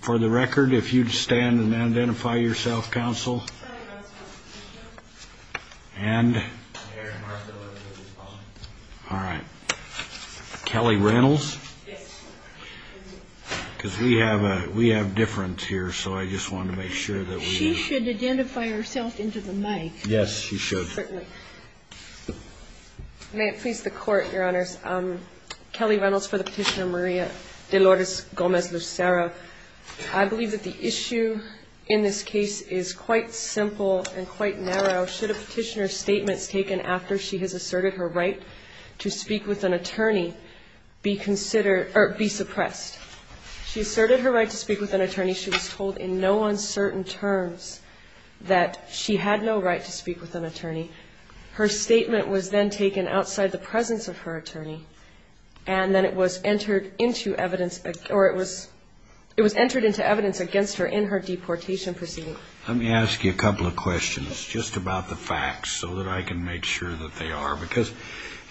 For the record if you'd stand and identify yourself counsel And All right Kelly Reynolds Because we have a we have different here, so I just wanted to make sure that we should identify herself into the mic Yes, you should May it please the court your honors Kelly Reynolds for the petitioner Maria de Lourdes Gomez Lucero I believe that the issue in this case is quite simple and quite narrow should a petitioner Statements taken after she has asserted her right to speak with an attorney Be considered or be suppressed She asserted her right to speak with an attorney. She was told in no uncertain terms That she had no right to speak with an attorney Her statement was then taken outside the presence of her attorney and Then it was entered into evidence or it was it was entered into evidence against her in her deportation proceeding Let me ask you a couple of questions Just about the facts so that I can make sure that they are because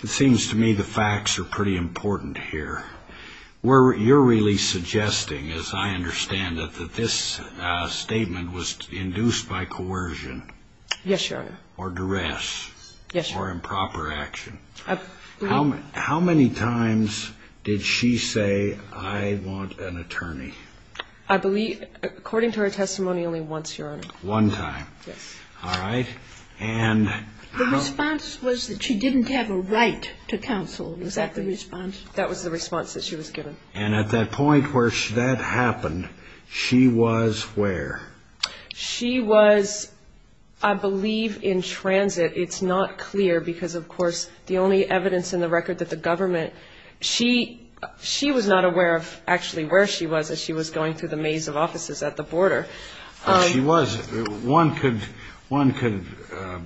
it seems to me the facts are pretty important here Where you're really suggesting as I understand that that this Statement was induced by coercion Yes, your honor or duress? Yes, or improper action? How many times did she say I want an attorney? I believe according to her testimony only once your honor one time. Yes, all right and The response was that she didn't have a right to counsel was that the response that was the response that she was given and at That point where she that happened She was where? she was I believe in transit. It's not clear because of course the only evidence in the record that the government she She was not aware of actually where she was as she was going through the maze of offices at the border She was one could one could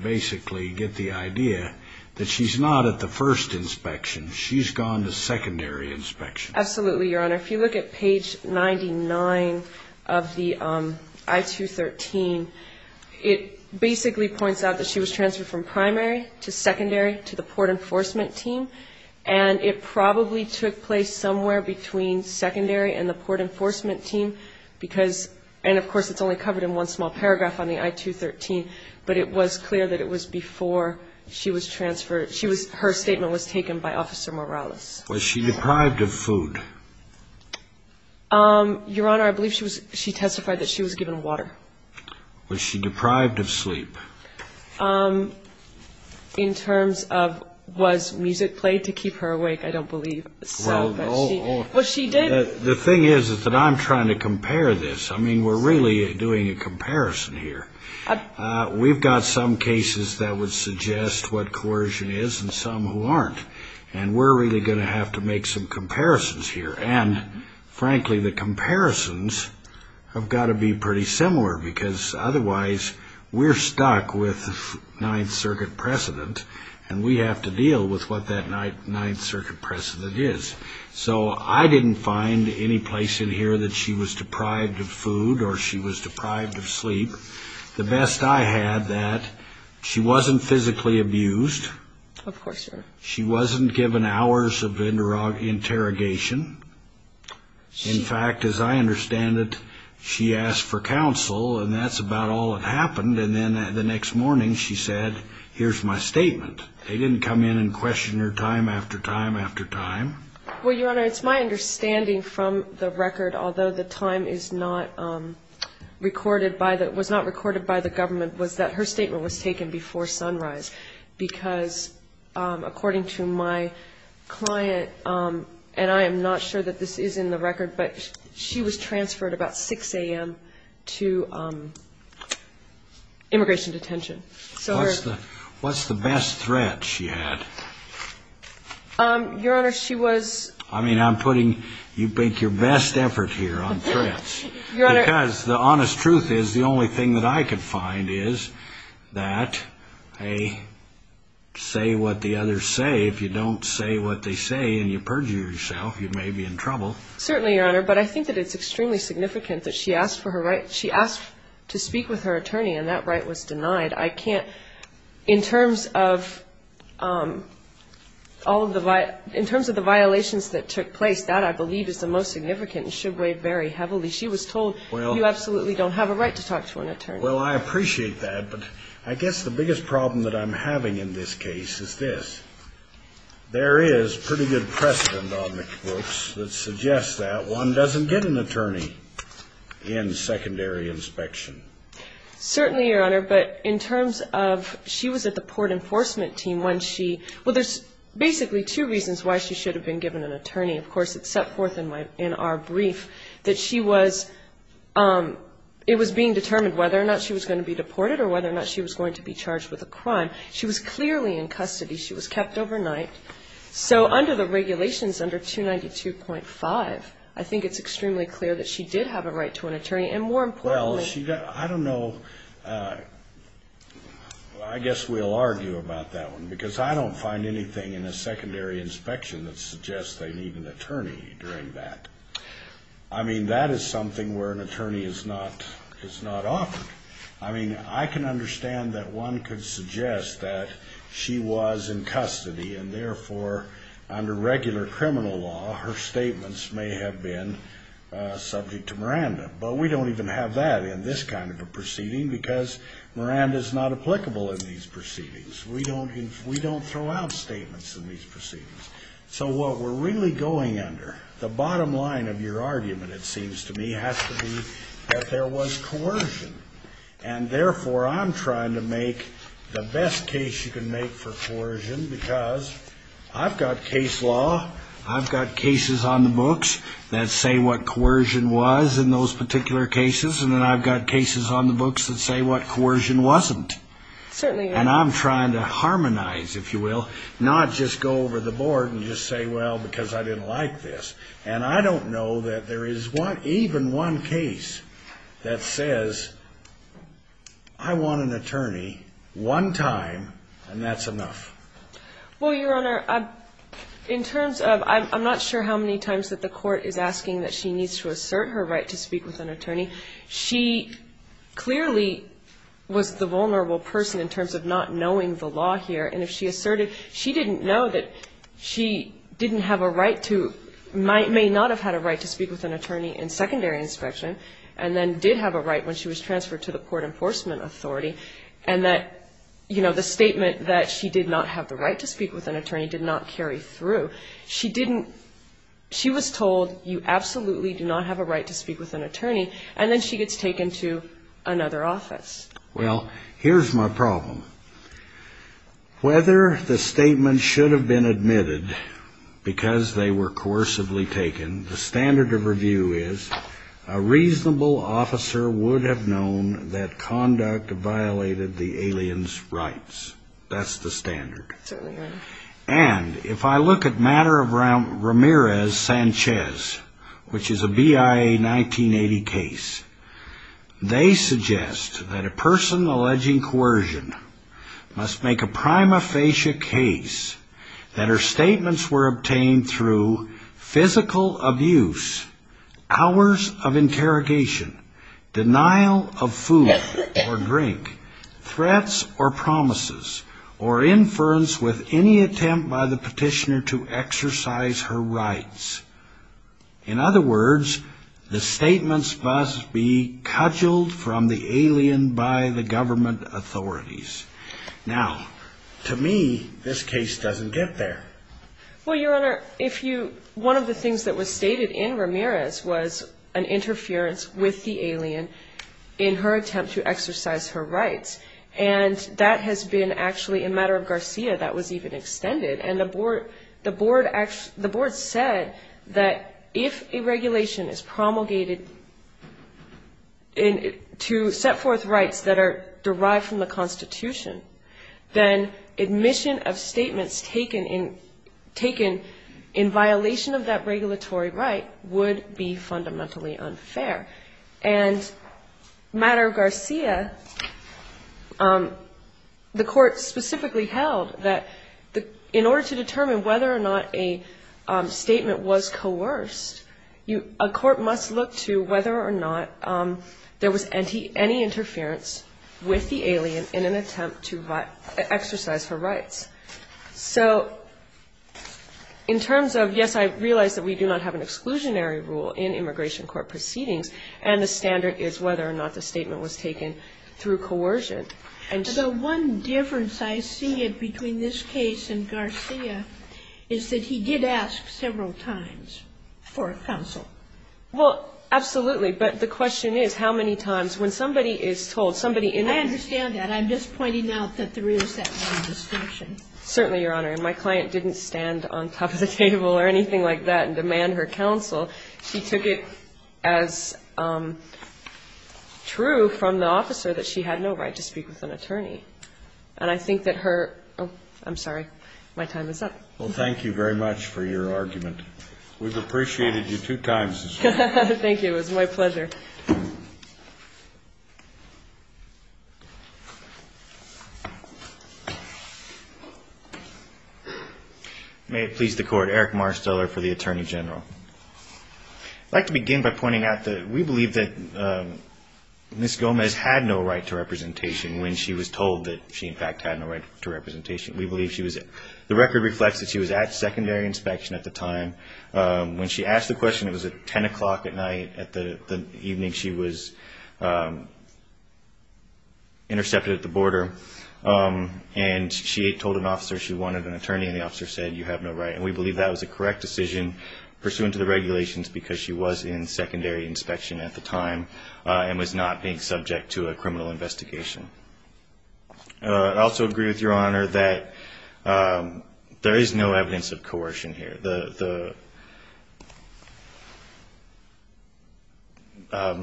Basically get the idea that she's not at the first inspection. She's gone to secondary inspection absolutely, your honor if you look at page 99 of the I-213 it basically points out that she was transferred from primary to secondary to the port enforcement team and It probably took place somewhere between secondary and the port enforcement team Because and of course, it's only covered in one small paragraph on the i-213 But it was clear that it was before she was transferred. She was her statement was taken by officer Morales Was she deprived of food? Um, your honor, I believe she was she testified that she was given water was she deprived of sleep In terms of was music played to keep her awake, I don't believe What she did the thing is is that I'm trying to compare this. I mean, we're really doing a comparison here We've got some cases that would suggest what coercion is and some who aren't and we're really gonna have to make some and frankly the comparisons I've got to be pretty similar because otherwise We're stuck with Ninth Circuit precedent and we have to deal with what that night Ninth Circuit precedent is So I didn't find any place in here that she was deprived of food or she was deprived of sleep The best I had that she wasn't physically abused She wasn't given hours of interrogation In fact as I understand it She asked for counsel and that's about all that happened. And then the next morning she said here's my statement They didn't come in and question her time after time after time. Well, your honor. It's my understanding from the record although the time is not recorded by that was not recorded by the government was that her statement was taken before sunrise because according to my Client and I am not sure that this is in the record, but she was transferred about 6 a.m. To Immigration detention. So what's the what's the best threat she had? Your honor she was I mean I'm putting you think your best effort here on threats because the honest truth is the only thing that I could find is that a Say what the others say if you don't say what they say and you perjure yourself you may be in trouble certainly your honor But I think that it's extremely significant that she asked for her right She asked to speak with her attorney and that right was denied. I can't in terms of All of the light in terms of the violations that took place that I believe is the most significant and should weigh very heavily She was told well, you absolutely don't have a right to talk to an attorney Well, I appreciate that but I guess the biggest problem that I'm having in this case is this There is pretty good precedent on the books that suggests that one doesn't get an attorney in secondary inspection Certainly your honor, but in terms of she was at the port enforcement team when she well There's basically two reasons why she should have been given an attorney Of course, it's set forth in my in our brief that she was Um, it was being determined whether or not she was going to be deported or whether or not She was going to be charged with a crime. She was clearly in custody. She was kept overnight So under the regulations under 292.5 I think it's extremely clear that she did have a right to an attorney and more important. Yeah, I don't know. I Guess we'll argue about that one because I don't find anything in a secondary inspection that suggests they need an attorney during that I Mean that is something where an attorney is not it's not often I mean I can understand that one could suggest that she was in custody and therefore Under regular criminal law her statements may have been subject to Miranda But we don't even have that in this kind of a proceeding because Miranda is not applicable in these proceedings We don't we don't throw out statements in these proceedings So what we're really going under the bottom line of your argument it seems to me has to be that there was coercion and Therefore I'm trying to make the best case you can make for coercion because I've got case law I've got cases on the books That say what coercion was in those particular cases and then I've got cases on the books that say what coercion wasn't Certainly and I'm trying to harmonize if you will not just go over the board and just say well because I didn't like this And I don't know that there is one even one case that says I Want an attorney one time and that's enough Well your honor In terms of I'm not sure how many times that the court is asking that she needs to assert her right to speak with an attorney she clearly Was the vulnerable person in terms of not knowing the law here and if she asserted she didn't know that She didn't have a right to Might may not have had a right to speak with an attorney in secondary inspection and then did have a right when she was transferred to the court enforcement authority and that You know the statement that she did not have the right to speak with an attorney did not carry through she didn't She was told you absolutely do not have a right to speak with an attorney and then she gets taken to another office Well, here's my problem Whether the statement should have been admitted because they were coercively taken the standard of review is a Reasonable officer would have known that conduct violated the aliens rights. That's the standard And if I look at matter of round Ramirez Sanchez, which is a BIA 1980 case They suggest that a person alleging coercion Must make a prima facie case that her statements were obtained through physical abuse hours of interrogation denial of food or drink threats or promises or Inference with any attempt by the petitioner to exercise her rights In other words the statements must be cuddled from the alien by the government authorities Now to me this case doesn't get there Well, your honor if you one of the things that was stated in Ramirez was an interference with the alien in her attempt to exercise her rights and That has been actually a matter of Garcia that was even extended and the board the board Actually, the board said that if a regulation is promulgated in to set forth rights that are derived from the Constitution then admission of statements taken in taken in violation of that regulatory right would be fundamentally unfair and matter Garcia Um the court specifically held that the in order to determine whether or not a Statement was coerced you a court must look to whether or not There was any any interference with the alien in an attempt to exercise her rights so In terms of yes I realize that we do not have an exclusionary rule in immigration court proceedings and the standard is whether or not the statement was taken Through coercion and so one difference. I see it between this case and Garcia is that he did ask several times for a council Well, absolutely, but the question is how many times when somebody is told somebody in understand that I'm just pointing out that there is that Certainly your honor and my client didn't stand on top of the table or anything like that and demand her counsel. She took it as True from the officer that she had no right to speak with an attorney and I think that her oh, I'm sorry My time is up. Well, thank you very much for your argument. We've appreciated you two times Thank you. It was my pleasure May it please the court Eric Marsteller for the Attorney General I'd like to begin by pointing out that we believe that Miss Gomez had no right to representation when she was told that she in fact had no right to representation We believe she was it the record reflects that she was at secondary inspection at the time When she asked the question, it was at 10 o'clock at night at the evening. She was Intercepted at the border And she told an officer she wanted an attorney and the officer said you have no right and we believe that was a correct decision Pursuant to the regulations because she was in secondary inspection at the time and was not being subject to a criminal investigation Also agree with your honor that there is no evidence of coercion here the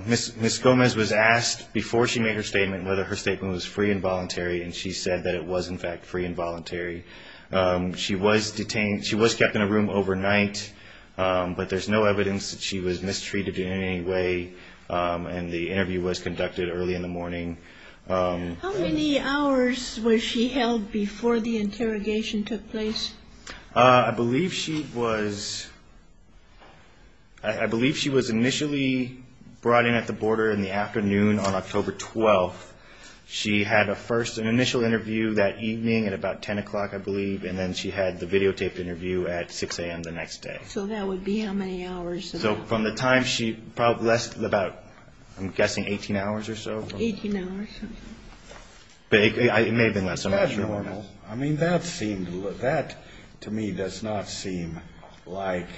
Miss miss Gomez was asked before she made her statement whether her statement was free and voluntary and she said that it was in fact free and voluntary She was detained. She was kept in a room overnight But there's no evidence that she was mistreated in any way And the interview was conducted early in the morning How many hours was she held before the interrogation took place? I believe she was I Believe she was initially brought in at the border in the afternoon on October 12th She had a first an initial interview that evening at about 10 o'clock I believe and then she had the videotaped interview at 6 a.m. The next day so that would be how many hours so from the time she probably less than about I'm guessing 18 hours or so Big I may have been less than normal. I mean that seemed that to me does not seem like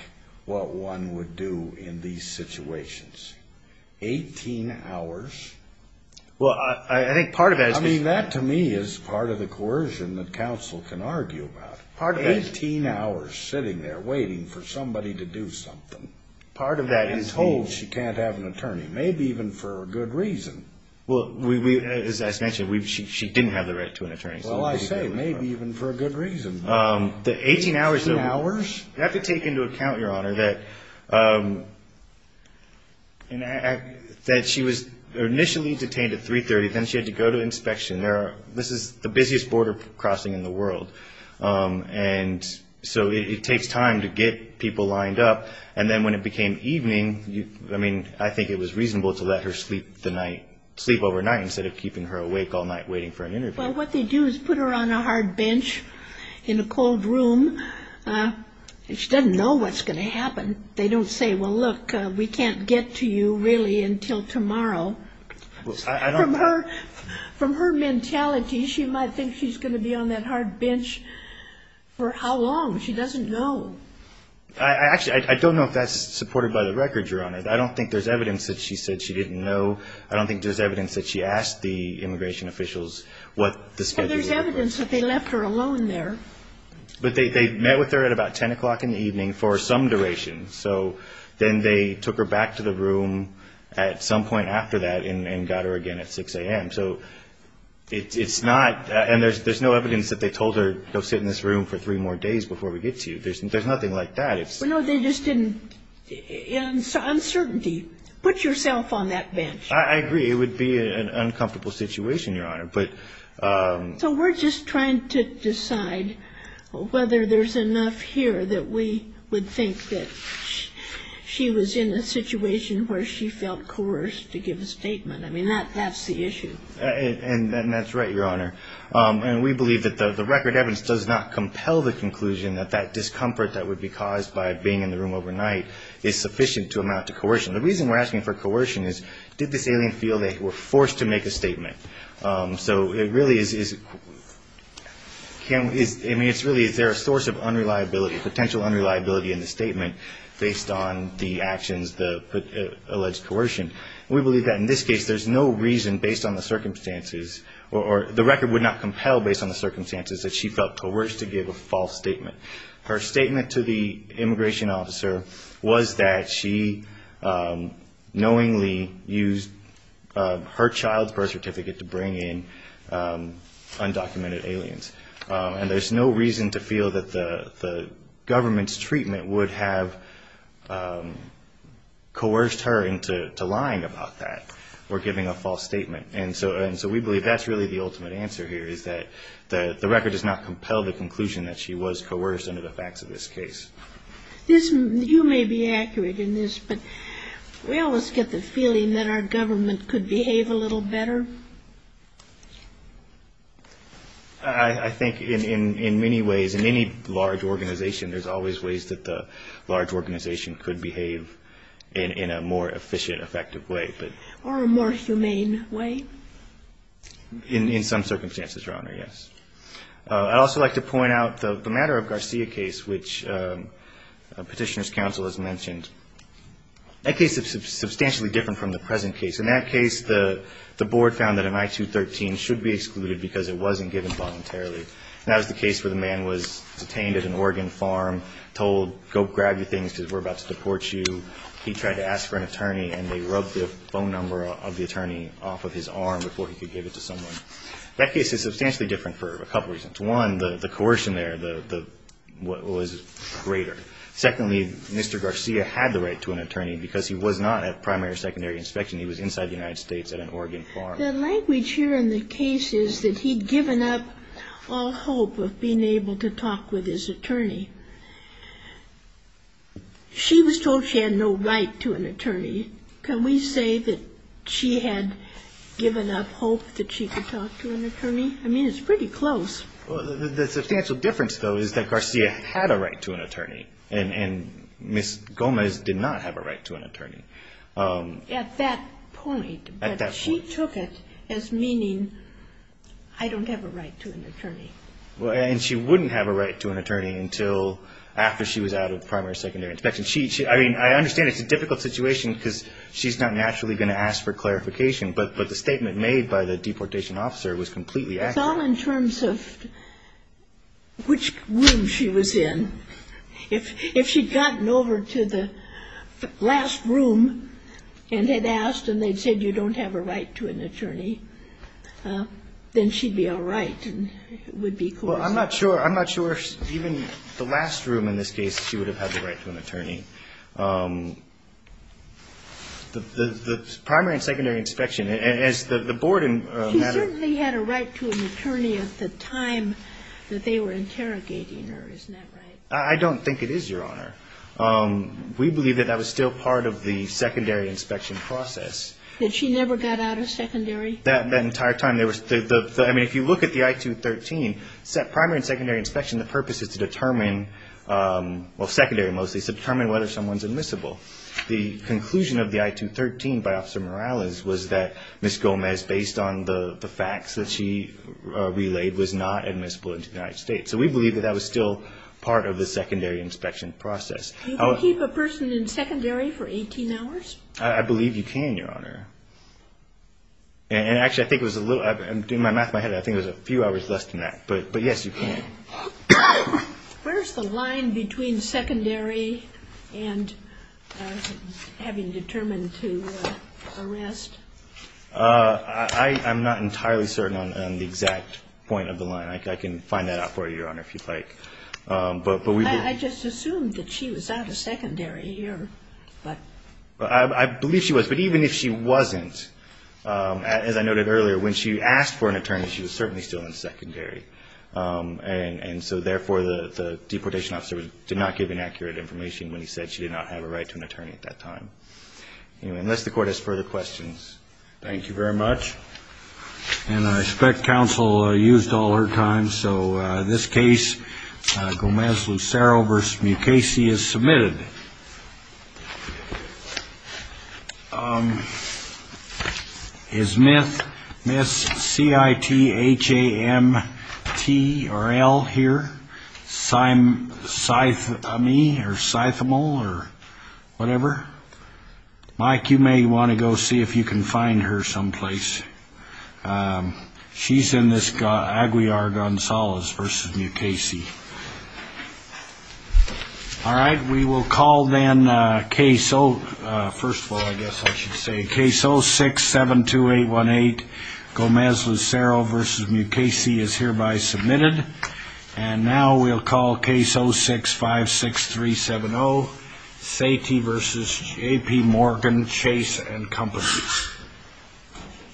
What one would do in these situations? 18 hours Well, I think part of it I mean that to me is part of the coercion that counsel can argue about part of 18 hours sitting there waiting for somebody to Do something part of that is hold. She can't have an attorney maybe even for a good reason Well, we as I mentioned we've she didn't have the right to an attorney So I say maybe even for a good reason the 18 hours two hours you have to take into account your honor that And That she was initially detained at 330 then she had to go to inspection there This is the busiest border crossing in the world and So it takes time to get people lined up and then when it became evening you I mean I think it was reasonable to let her sleep the night sleep overnight instead of keeping her awake all night waiting for an interview Well, what they do is put her on a hard bench in a cold room She doesn't know what's going to happen. They don't say well look we can't get to you really until tomorrow From her mentality. She might think she's going to be on that hard bench For how long she doesn't know I? Actually, I don't know if that's supported by the records your honor I don't think there's evidence that she said she didn't know I don't think there's evidence that she asked the immigration officials What the schedule is evidence that they left her alone there? But they met with her at about 10 o'clock in the evening for some duration So then they took her back to the room at some point after that and got her again at 6 a.m. So it's it's not and there's there's no evidence that they told her go sit in this room for three more days before we get to You there's nothing like that. It's no they just didn't In some certainty put yourself on that bench. I agree. It would be an uncomfortable situation your honor, but So we're just trying to decide Whether there's enough here that we would think that She was in a situation where she felt coerced to give a statement. I mean that that's the issue And that's right your honor And we believe that the the record evidence does not compel the conclusion that that discomfort that would be caused by being in the room Overnight is sufficient to amount to coercion the reason we're asking for coercion is did this alien feel they were forced to make a statement So it really is Kim is I mean, it's really is there a source of unreliability potential unreliability in the statement based on the actions the Alleged coercion we believe that in this case There's no reason based on the circumstances or the record would not compel based on the circumstances that she felt coerced to give a false statement her statement to the immigration officer was that she knowingly used Her child birth certificate to bring in Undocumented aliens and there's no reason to feel that the the government's treatment would have Coerced her into lying about that or giving a false statement And so and so we believe that's really the ultimate answer here Is that the the record does not compel the conclusion that she was coerced under the facts of this case? this you may be accurate in this but We always get the feeling that our government could behave a little better I Think in in in many ways in any large organization There's always ways that the large organization could behave in in a more efficient effective way, but or a more humane way In in some circumstances your honor. Yes. I'd also like to point out the matter of Garcia case, which petitioners council has mentioned That case is substantially different from the present case in that case The the board found that an i-213 should be excluded because it wasn't given voluntarily And that was the case where the man was detained at an Oregon farm told go grab your things because we're about to deport you He tried to ask for an attorney and they rubbed the phone number of the attorney off of his arm before he could give it To someone that case is substantially different for a couple reasons one the the coercion there the the what was greater Secondly mr. Garcia had the right to an attorney because he was not at primary or secondary inspection He was inside the United States at an Oregon farm Language here in the case is that he'd given up all hope of being able to talk with his attorney She was told she had no right to an attorney can we say that she had Given up hope that she could talk to an attorney. I mean, it's pretty close The substantial difference though is that Garcia had a right to an attorney and and miss Gomez did not have a right to an attorney at that point She took it as meaning. I Don't have a right to an attorney Well, and she wouldn't have a right to an attorney until after she was out of primary secondary inspection She I mean, I understand it's a difficult situation because she's not naturally gonna ask for clarification But but the statement made by the deportation officer was completely at all in terms of which room she was in if if she'd gotten over to the Last room and had asked and they'd said you don't have a right to an attorney Then she'd be all right Would be cool. I'm not sure. I'm not sure even the last room in this case. She would have had the right to an attorney The the primary and secondary inspection as the the board and They had a right to an attorney at the time that they were interrogating her, isn't that right? I don't think it is your honor We believe that that was still part of the secondary inspection process Did she never got out of secondary that that entire time? There was the I mean if you look at the i-213 set primary and secondary inspection, the purpose is to determine well secondary mostly to determine whether someone's admissible the Miss Gomez based on the the facts that she Relayed was not admissible in the United States. So we believe that that was still part of the secondary inspection process I'll keep a person in secondary for 18 hours. I believe you can your honor And actually I think was a little I've been doing my math my head I think there's a few hours less than that, but but yes, you can where's the line between secondary and Having determined to I I'm not entirely certain on the exact point of the line. I can find that out for you your honor if you'd like But but we just assumed that she was out of secondary here But I believe she was but even if she wasn't As I noted earlier when she asked for an attorney, she was certainly still in secondary And and so therefore the the deportation officer did not give inaccurate information when he said she did not have a right to an attorney at that time Unless the court has further questions Thank you very much And I expect counsel used all her time. So this case Gomez Lucero versus Mukasey is submitted His myth miss CIT H-a-m-t-r-l here sime Scythe me or Scythemal or whatever Mike you may want to go see if you can find her someplace She's in this guy Aguiar Gonzalez versus Mukasey All right, we will call then case oh first of all, I guess I should say case oh six seven two eight one eight Gomez Lucero versus Mukasey is hereby submitted and now we'll call case. Oh six five six three seven. Oh Sat versus JP Morgan chase and company